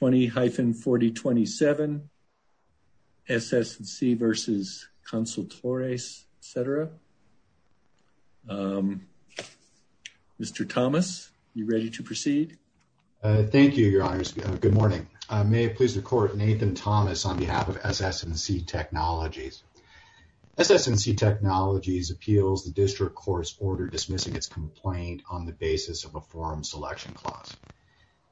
20-4027, SS&C v. Consultores, etc. Mr. Thomas, are you ready to proceed? Thank you, your honors. Good morning. May it please the court, Nathan Thomas on behalf of SS&C Technologies. SS&C Technologies appeals the district court's order dismissing its complaint on the basis of a forum selection clause.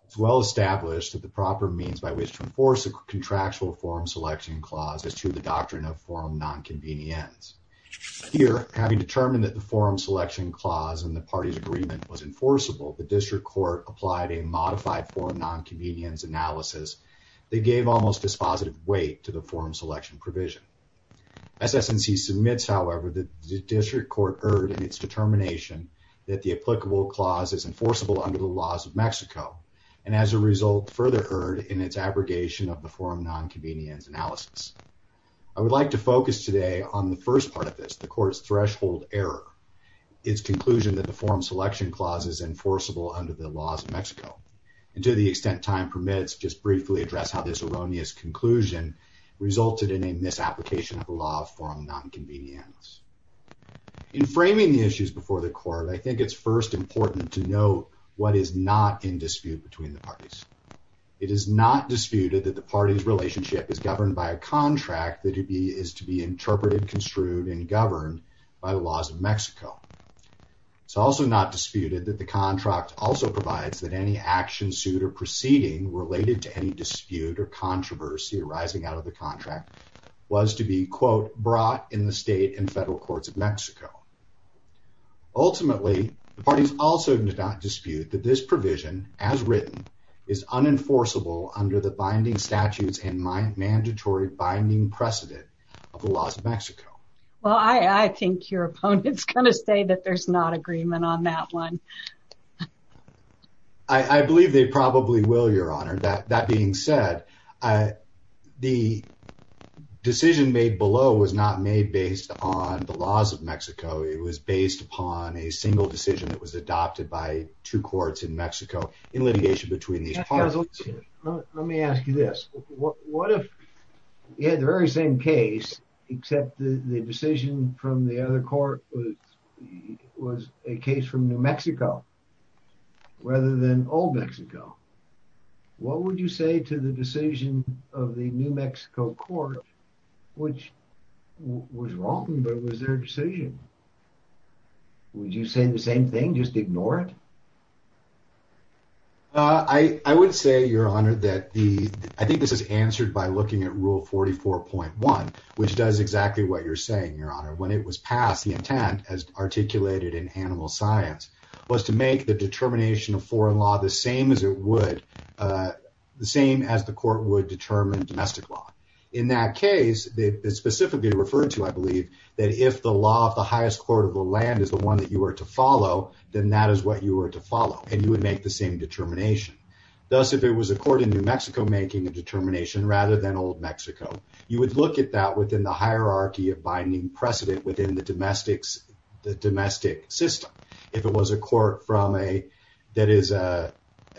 It's well established that the proper means by which to enforce a contractual forum selection clause is through the doctrine of forum nonconvenience. Here, having determined that the forum selection clause in the party's agreement was enforceable, the district court applied a modified forum nonconvenience analysis that gave almost dispositive weight to the forum selection provision. SS&C submits, however, that the district court erred in its determination that the applicable clause is enforceable under the laws of Mexico and as a result further erred in its abrogation of the forum nonconvenience analysis. I would like to focus today on the first part of this, the court's threshold error, its conclusion that the forum selection clause is enforceable under the laws of Mexico, and to the extent time permits, just briefly address how this erroneous conclusion resulted in a misapplication of the law of forum nonconvenience. In framing the issues before the court, I think it's first important to note what is not in dispute between the parties. It is not disputed that the party's relationship is governed by a contract that is to be interpreted, construed, and governed by the laws of Mexico. It's also not disputed that the contract also provides that any action, suit, or proceeding related to any dispute or controversy arising out of the contract was to be, quote, brought in the state and federal courts of Mexico. Ultimately, the parties also do not dispute that this provision, as written, is unenforceable under the binding statutes and my mandatory binding precedent of the laws of Mexico. Well, I think your opponents are going to say that there's not agreement on that one. I believe they probably will, Your Honor. That being said, the decision made below was not made based on the laws of Mexico. It was based upon a single decision that was adopted by two courts in Mexico in litigation between these parties. Let me ask you this. What if you had the very same except the decision from the other court was a case from New Mexico rather than old Mexico? What would you say to the decision of the New Mexico court, which was wrong, but was their decision? Would you say the same thing, just ignore it? I would say, Your Honor, that I think this is answered by looking at Rule 44.1, which does exactly what you're saying, Your Honor. When it was passed, the intent, as articulated in animal science, was to make the determination of foreign law the same as the court would determine domestic law. In that case, specifically referred to, I believe, that if the law of the highest court of the land is the one that you were to follow, then that is what you were to follow, and you would make the same determination. Thus, if it was a court in New Mexico making a determination rather than old Mexico, you would look at that within the hierarchy of binding precedent within the domestic system. If it was a court that is a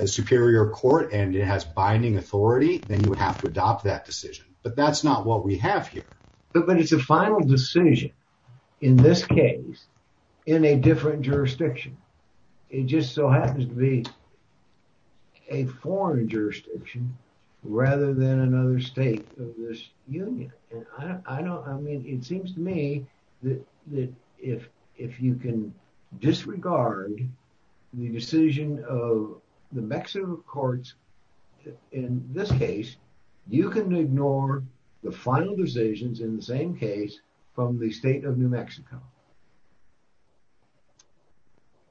superior court and it has binding authority, then you would have to adopt that decision, but that's not what we have here. But it's a final decision, in this case, in a different jurisdiction. It just so happens to be a foreign jurisdiction rather than another state of this union. It seems to me that if you can disregard the decision of the Mexico courts in this case, you can ignore the final decisions in the same case from the state of New Mexico.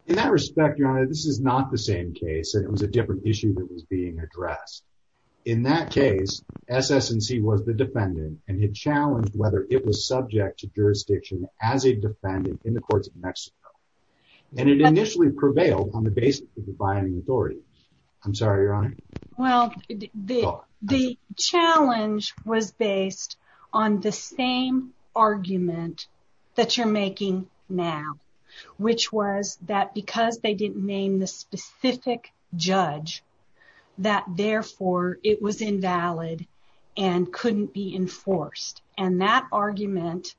In that respect, Your Honor, this is not the same case. It was a different issue that was being addressed. In that case, SS&C was the defendant and had challenged whether it was subject to jurisdiction as a defendant in the courts of Mexico, and it initially prevailed on the basis of the binding authority. I'm sorry, Your Honor, this is the same argument that you're making now, which was that because they didn't name the specific judge, that therefore it was invalid and couldn't be enforced. That argument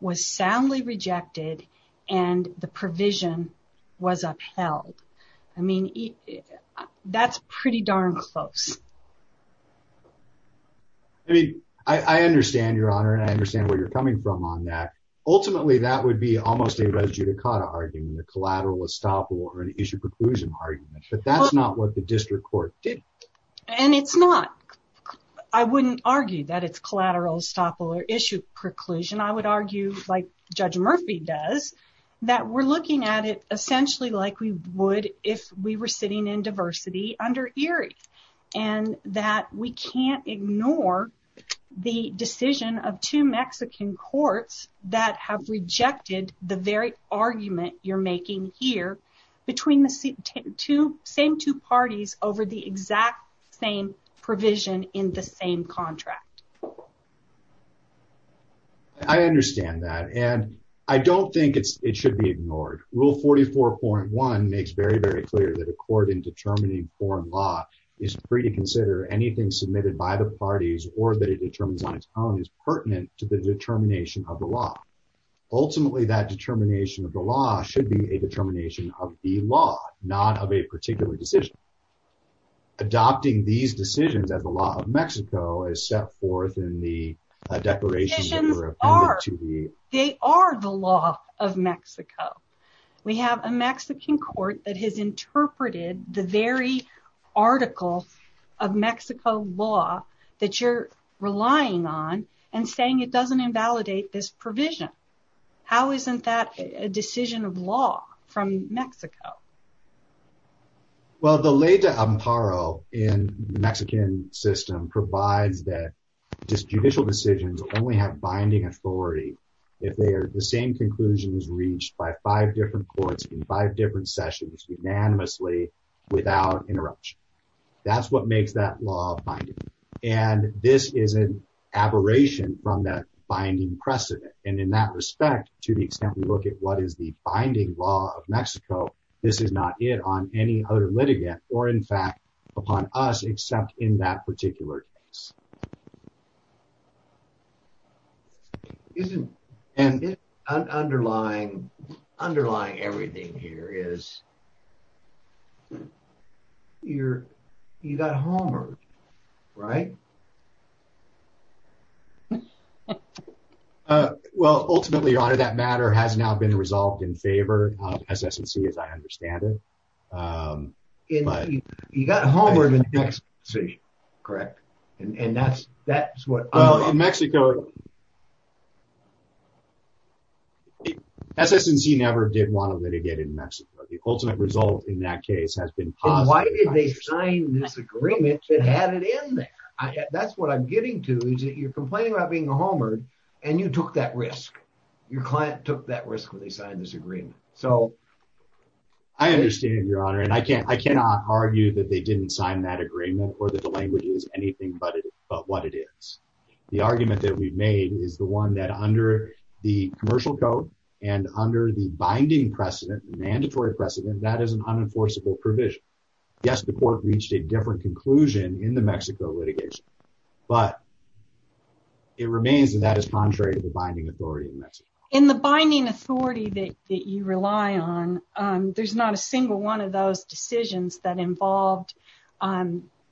was soundly rejected and the provision was upheld. I mean, that's pretty darn close. I mean, I understand, Your Honor, and I understand where you're coming from on that. Ultimately, that would be almost a res judicata argument, a collateral estoppel or an issue preclusion argument, but that's not what the district court did. And it's not. I wouldn't argue that it's collateral estoppel or issue preclusion. I would argue, like Judge Murphy does, that we're looking at it essentially like we would if we were sitting in diversity under ERIE. And that we can't ignore the decision of two Mexican courts that have rejected the very argument you're making here between the same two parties over the exact same provision in the same contract. I understand that, and I don't think it should be ignored. Rule 44.1 makes very, foreign law is free to consider anything submitted by the parties or that it determines on its own is pertinent to the determination of the law. Ultimately, that determination of the law should be a determination of the law, not of a particular decision. Adopting these decisions as the law of Mexico is set forth in the declaration. They are the law of Mexico. We have a Mexican court that has interpreted the very article of Mexico law that you're relying on and saying it doesn't invalidate this provision. How isn't that a decision of law from Mexico? Well, the ley de amparo in the Mexican system provides that judicial decisions only have binding authority if the same conclusion is reached by five different courts in five different sessions unanimously without interruption. That's what makes that law binding. And this is an aberration from that binding precedent. And in that respect, to the extent we look at what is the binding law of Mexico, this is not it on any other litigant or in fact upon us except in that particular case. And underlying everything here is you got homework, right? Well, ultimately, your honor, that matter has now been resolved in favor of SS&C as I understand it. You got homework in Mexico, correct? SS&C never did want to litigate in Mexico. The ultimate result in that case has been positive. Why did they sign this agreement that had it in there? That's what I'm getting to is that you're complaining about being a homework and you took that risk. Your client took that risk when they signed this agreement. So I understand, your honor, and I cannot argue that they didn't sign that agreement or that the language is anything but what it is. The argument that we've made is the one that under the commercial code and under the binding precedent, mandatory precedent, that is an unenforceable provision. Yes, the court reached a different conclusion in the Mexico litigation, but it remains that that is contrary to the binding authority in Mexico. In the binding authority that you rely on, there's not a single one of those decisions that involved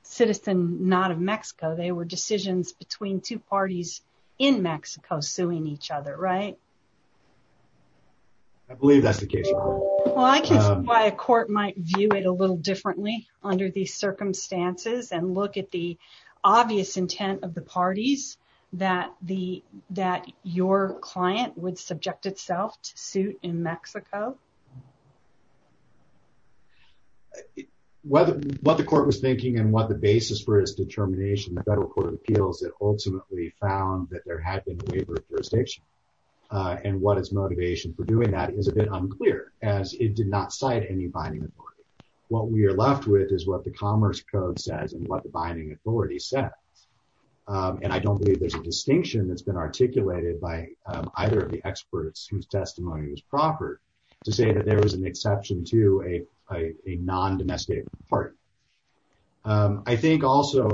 citizen not of Mexico. They were decisions between two parties in Mexico suing each other, right? I believe that's the case. Well, I can see why a court might view it a little differently under these circumstances and look at the obvious intent of the parties that your client would subject itself to suit in Mexico. What the court was thinking and what the basis for its determination, the federal court of appeals that ultimately found that there had been a waiver of jurisdiction and what its motivation for doing that is a bit unclear as it did not cite any binding authority. What we are left with is what the commerce code says and what the binding authority says. I don't believe there's a distinction that's been articulated by either of the experts whose testimony was proper to say that there was an exception to a non-domesticated party. I think also,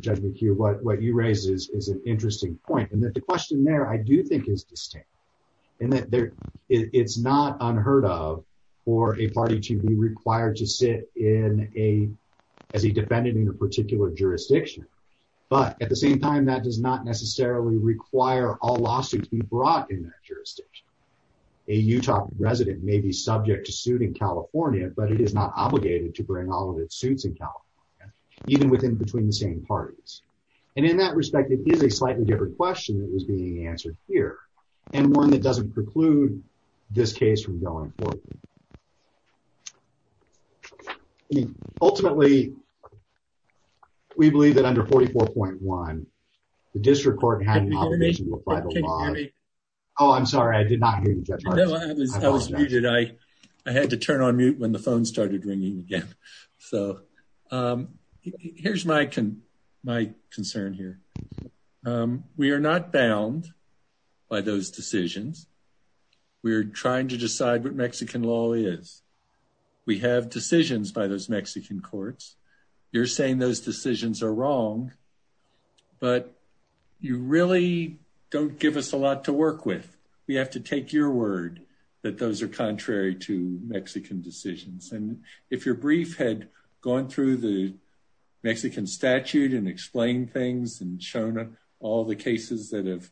Judge McHugh, what you raise is an interesting point and that the question there I do think is distinct and that it's not unheard of for a party to be required to sit in a, as a defendant in a particular jurisdiction, but at the same time that does not necessarily require all lawsuits be brought in that jurisdiction. A Utah resident may be subject to suit in California, but it is not obligated to bring all of its suits in California, even within between the same parties. And in that respect, it is a slightly different question that was being answered here and one that doesn't preclude this case from going forward. Ultimately, we believe that under 44.1, the district court had an obligation to apply the law. Oh, I'm sorry. I did not hear you, Judge. No, I was muted. I had to turn on mute when the phone started ringing again. So, here's my concern here. We are not bound by those decisions. We're trying to decide what Mexican law is. We have decisions by those Mexican courts. You're saying those decisions are wrong, but you really don't give us a lot to work with. We have to take your word that those are contrary to Mexican decisions. And if your brief had gone through the Mexican statute and explained things and shown all the cases that have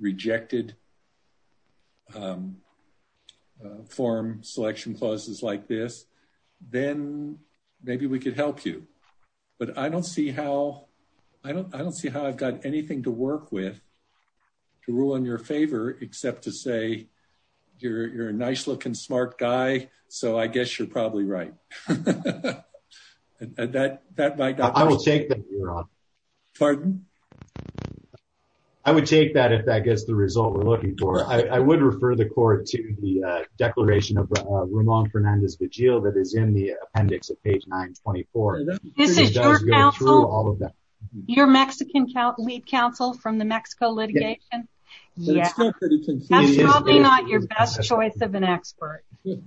rejected form selection clauses like this, then maybe we could help you. But I don't see how I've got anything to work with to rule in your favor except to say, you're a nice looking smart guy, so I guess you're probably right. I would take that if that gets the result we're looking for. I would refer the court to the declaration of Ramon Fernandez-Vigil that is in the appendix of page 924. This is your counsel? Your Mexican lead counsel from the Mexico litigation? That's probably not your best choice of an expert. It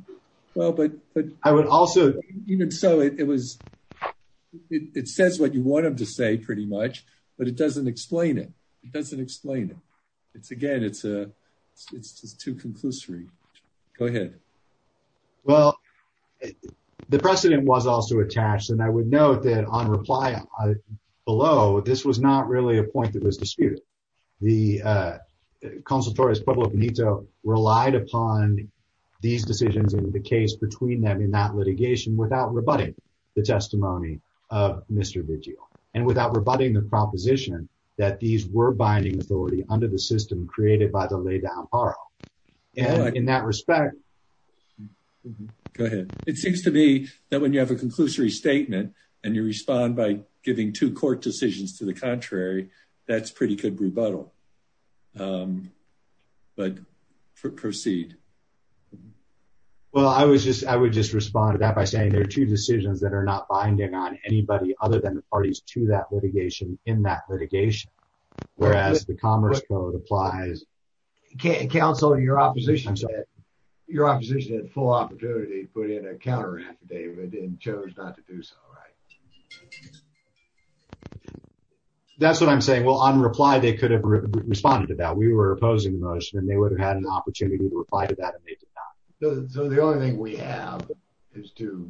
says what you want him to say, pretty much, but it doesn't explain it. It doesn't explain it. Again, it's too conclusory. Go ahead. Well, the precedent was also attached, and I would note that on reply below, this was not really a point that was disputed. The consultor, Pueblo Benito, relied upon these decisions and the case between them in that litigation without rebutting the testimony of Mr. Vigil, and without rebutting the proposition that these were binding authority under the system created by the laid-down parole. In that respect... Go ahead. It seems to me that when you have a conclusory statement and you respond by giving two court decisions to the contrary, that's pretty good rebuttal, but proceed. Well, I would just respond to that by saying there are two decisions that are not binding on anybody other than the parties to that litigation in that litigation, whereas the Commerce Code applies... Counsel, your opposition had full opportunity to put in a counter-affidavit and chose not to do so, right? That's what I'm saying. Well, on reply, they could have responded to that. We were opposing the motion and they would have had an opportunity to reply to that, and they did not. So, the only thing we have as to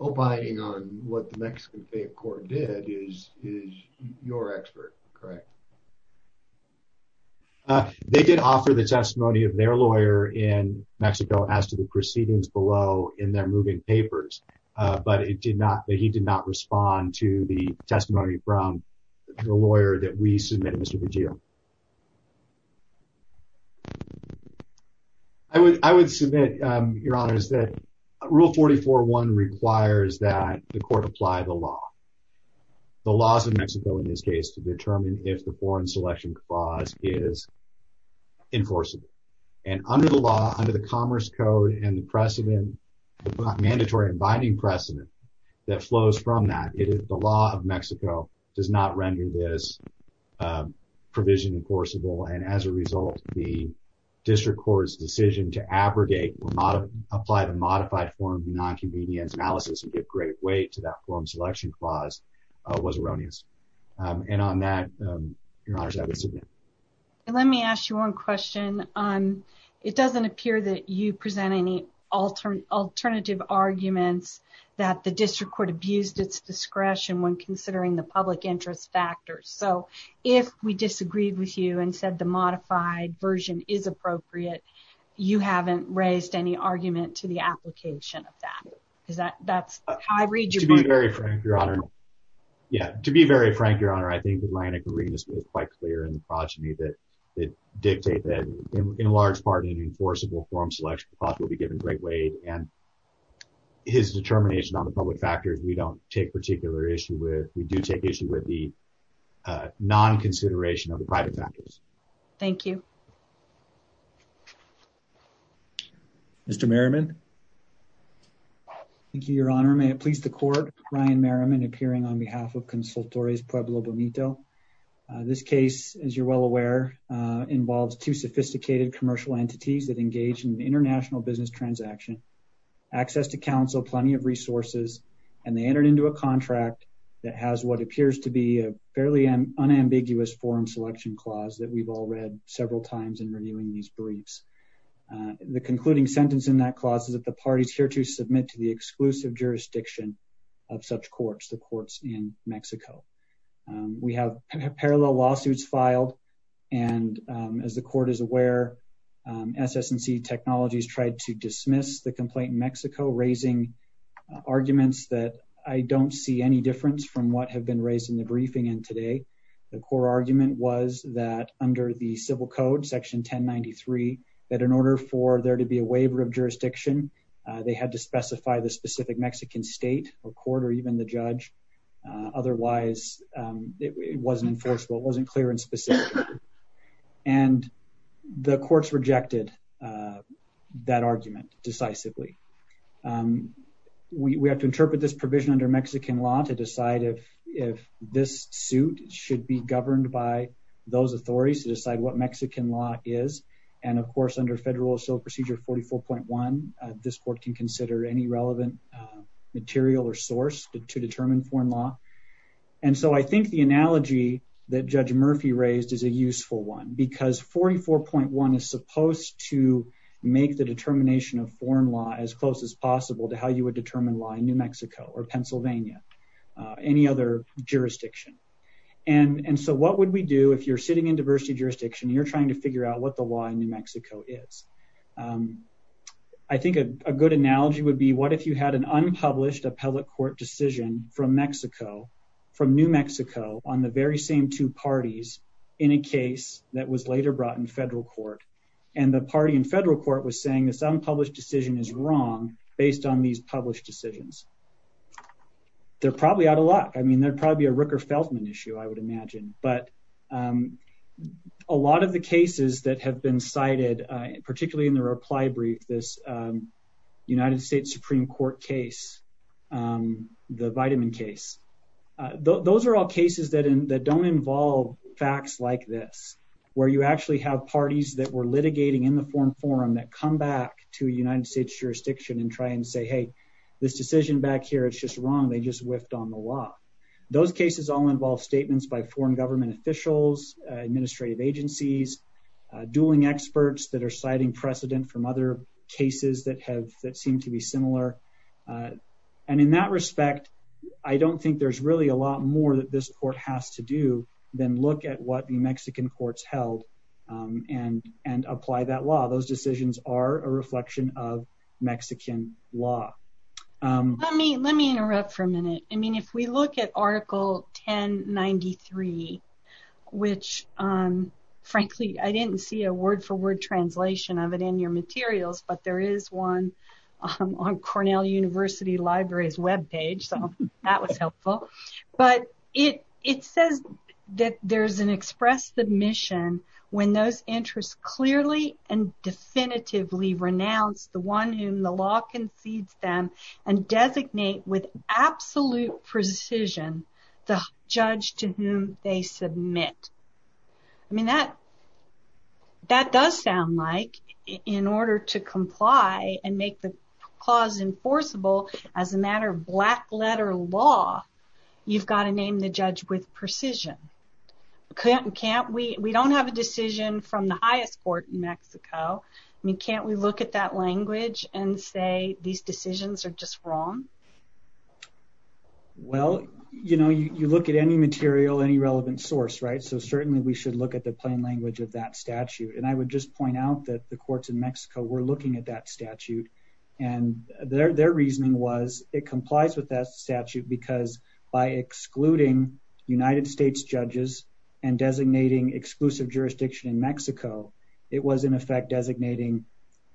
opining on what the Mexican faith court did is your expert, correct? They did offer the testimony of their lawyer in Mexico as to the proceedings below in their moving papers, but he did not respond to the testimony from the lawyer that we submit, Mr. Vigil. I would submit, Your Honors, that Rule 44-1 requires that the court apply the law, the laws of Mexico in this case, to determine if the foreign selection clause is enforceable. And under the law, under the Commerce Code and the precedent, the mandatory and binding precedent that flows from that, the law of Mexico does not render this provision enforceable. And as a result, the district court's decision to abrogate or apply the modified form of nonconvenience analysis and give great weight to that foreign selection clause was erroneous. And on that, Your Honors, I would submit. Let me ask you one question. It doesn't appear that you present any alternative arguments that the district court abused its discretion when considering the public interest factors. So, if we disagreed with you and said the modified version is appropriate, you haven't raised any argument to the application of that. That's how I read your book. To be very frank, Your Honor, I think the Atlantic will be given great weight and his determination on the public factors we don't take particular issue with. We do take issue with the non-consideration of the private factors. Thank you. Mr. Merriman. Thank you, Your Honor. May it please the court, Ryan Merriman appearing on behalf of Consultores Pueblo Bonito. This case, as you're well aware, involves two sophisticated commercial entities that engage in international business transaction, access to counsel, plenty of resources, and they entered into a contract that has what appears to be a fairly unambiguous foreign selection clause that we've all read several times in reviewing these briefs. The concluding sentence in that clause is that the party's here to submit to the exclusive jurisdiction of such courts, the courts in Mexico. We have parallel lawsuits filed. And as the court is aware, SS&C Technologies tried to dismiss the complaint in Mexico, raising arguments that I don't see any difference from what have been raised in the briefing and today. The core argument was that under the civil code, section 1093, that in order for there to be a waiver of jurisdiction, they had to specify the specific Mexican state or court or even the judge. Otherwise, it wasn't enforceable. It wasn't clear and specific. And the courts rejected that argument decisively. We have to interpret this provision under Mexican law to decide if this suit should be governed by those authorities to decide what Mexican law is. And of course, under Federal Assault Procedure 44.1, this court can consider any relevant material or source to determine foreign law. And so I think the analogy that Judge Murphy raised is a useful one because 44.1 is supposed to make the determination of foreign law as close as possible to how you would determine law in New Mexico or Pennsylvania, any other jurisdiction. And so what would we do if you're sitting in diversity jurisdiction, you're trying to figure out what the law in New Mexico is? I think a good analogy would be what you had an unpublished appellate court decision from Mexico, from New Mexico on the very same two parties in a case that was later brought in federal court. And the party in federal court was saying this unpublished decision is wrong based on these published decisions. They're probably out of luck. I mean, they're probably a Rooker-Feldman issue, I would imagine. But a lot of the cases that have been cited, particularly in the reply brief, this United States Supreme Court case, the Vitaman case, those are all cases that don't involve facts like this, where you actually have parties that were litigating in the foreign forum that come back to United States jurisdiction and try and say, hey, this decision back here, it's just wrong, they just whiffed on the law. Those cases all involve statements by foreign government officials, administrative agencies, dueling experts that are citing precedent from other cases that seem to be similar. And in that respect, I don't think there's really a lot more that this court has to do than look at what the Mexican courts held and apply that law. Those decisions are a reflection of Mexican law. Let me interrupt for a minute. I mean, if we look at Article 1093, which, frankly, I didn't see a word-for-word translation of it in your materials, but there is one on Cornell University Library's webpage, so that was helpful. But it says that there's an express submission when those interests clearly and definitively renounce the one whom the law concedes them and designate with absolute precision the judge to whom they submit. I mean, that does sound like, in order to comply and make the clause enforceable as a matter of black-letter law, you've got to name the judge with precision. Can't we? We don't have a decision from the highest court in Mexico. I mean, can't we look at that language and say these decisions are just wrong? Well, you know, you look at any material, any relevant source, right? So certainly, we should look at the plain language of that statute. And I would just point out that the courts in Mexico were looking at that statute, and their reasoning was it complies with that statute because by excluding United States judges and designating exclusive jurisdiction in Mexico, it was in effect designating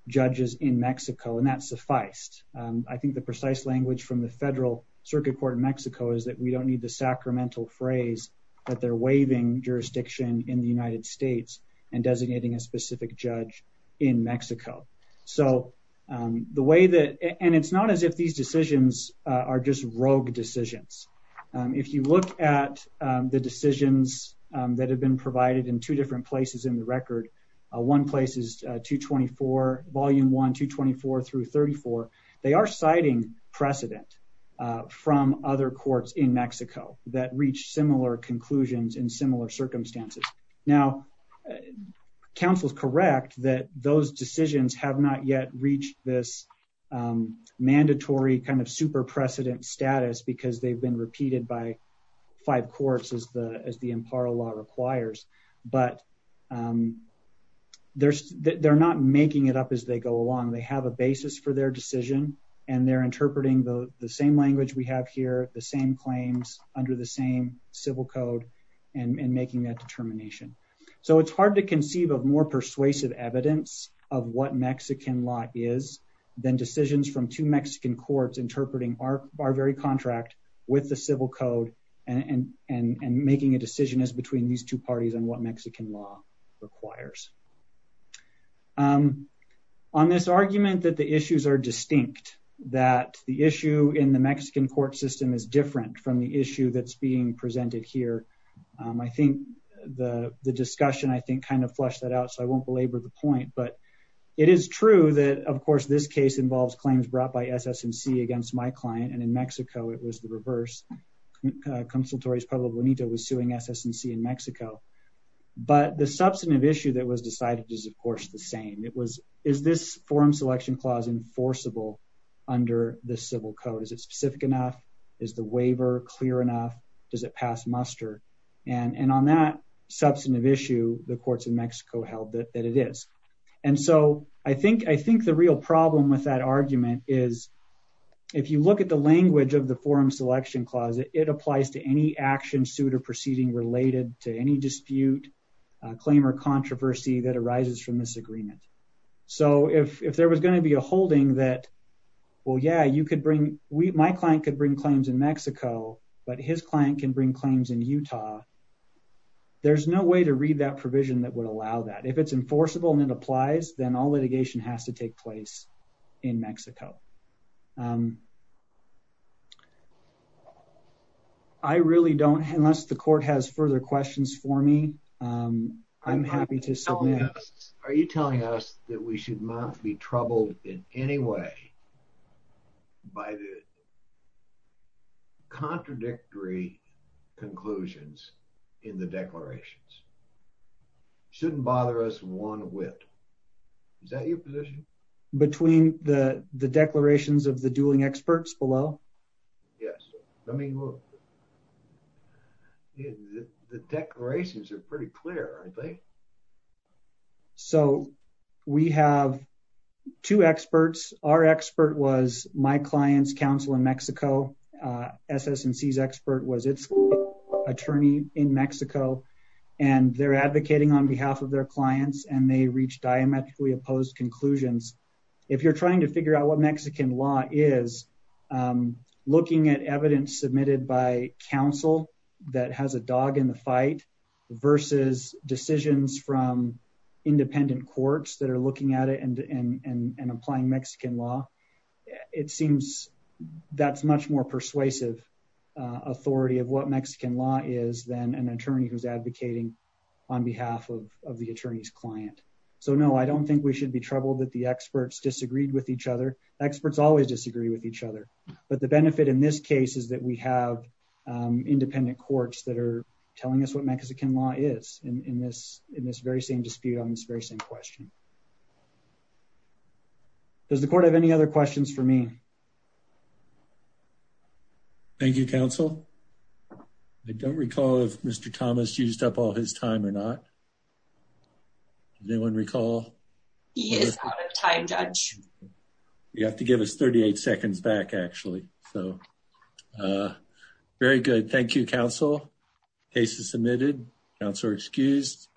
judges in Mexico, and that sufficed. I think the precise language from the federal circuit court in Mexico is that we don't need the sacramental phrase that they're waiving jurisdiction in the United States and designating a specific judge in Mexico. And it's not as if these decisions are just rogue decisions. If you look at the decisions that have been provided in two different places in the record, one place is 224, volume 1, 224 through 34, they are citing precedent from other courts in Mexico that reached similar conclusions in similar circumstances. Now, counsel's correct that those decisions have not yet reached this mandatory kind of super precedent status because they've been repeated by five courts as the law requires, but they're not making it up as they go along. They have a basis for their decision, and they're interpreting the same language we have here, the same claims under the same civil code, and making that determination. So it's hard to conceive of more persuasive evidence of what Mexican law is than decisions from two Mexican courts interpreting our very contract with the civil code and making a decision as between these two parties on what Mexican law requires. On this argument that the issues are distinct, that the issue in the Mexican court system is different from the issue that's being presented here, I think the discussion, I think, kind of flushed that out, so I won't belabor the point. But it is true that, of course, this case involves claims brought by SS&C against my client, and in Mexico, it was the reverse. Consultorios Pueblo Bonito was suing SS&C in Mexico. But the substantive issue that was decided is, of course, the same. It was, is this forum selection clause enforceable under the civil code? Is it specific enough? Is the waiver clear enough? Does it pass muster? And on that substantive issue, the courts in Mexico held that it is. And so I think the real problem with that argument is, if you look at the language of the forum selection clause, it applies to any action, suit, or proceeding related to any dispute, claim, or controversy that arises from this agreement. So if there was going to be a holding that, well, yeah, you could bring, my client could bring claims in Mexico, but his client can bring claims in Utah, there's no way to read that provision that would allow that. If it's enforceable and it applies, then all litigation has to take place in Mexico. I really don't, unless the court has further questions for me, I'm happy to submit. Are you telling us that we should not be troubled in any way by the contradictory conclusions in the declarations? Shouldn't bother us one whit Is that your position? Between the declarations of the dueling experts below? Yes, let me look. The declarations are pretty clear, I think. So we have two experts. Our expert was my client's counsel in Mexico. SS&C's expert was its attorney in Mexico. And they're advocating on behalf of their clients and they reached diametrically opposed conclusions. If you're trying to figure out what Mexican law is, looking at evidence submitted by counsel that has a dog in the fight, versus decisions from independent courts that are looking at it and applying Mexican law, it seems that's much more persuasive authority of what Mexican law is than an attorney who's client. So no, I don't think we should be troubled that the experts disagreed with each other. Experts always disagree with each other. But the benefit in this case is that we have independent courts that are telling us what Mexican law is in this very same dispute on this very same question. Does the court have any other questions for me? Thank you, counsel. I don't recall if Mr. Thomas used up all his time or not. Does anyone recall? He is out of time, judge. You have to give us 38 seconds back, actually. So very good. Thank you, counsel. Case is submitted. Counselor excused.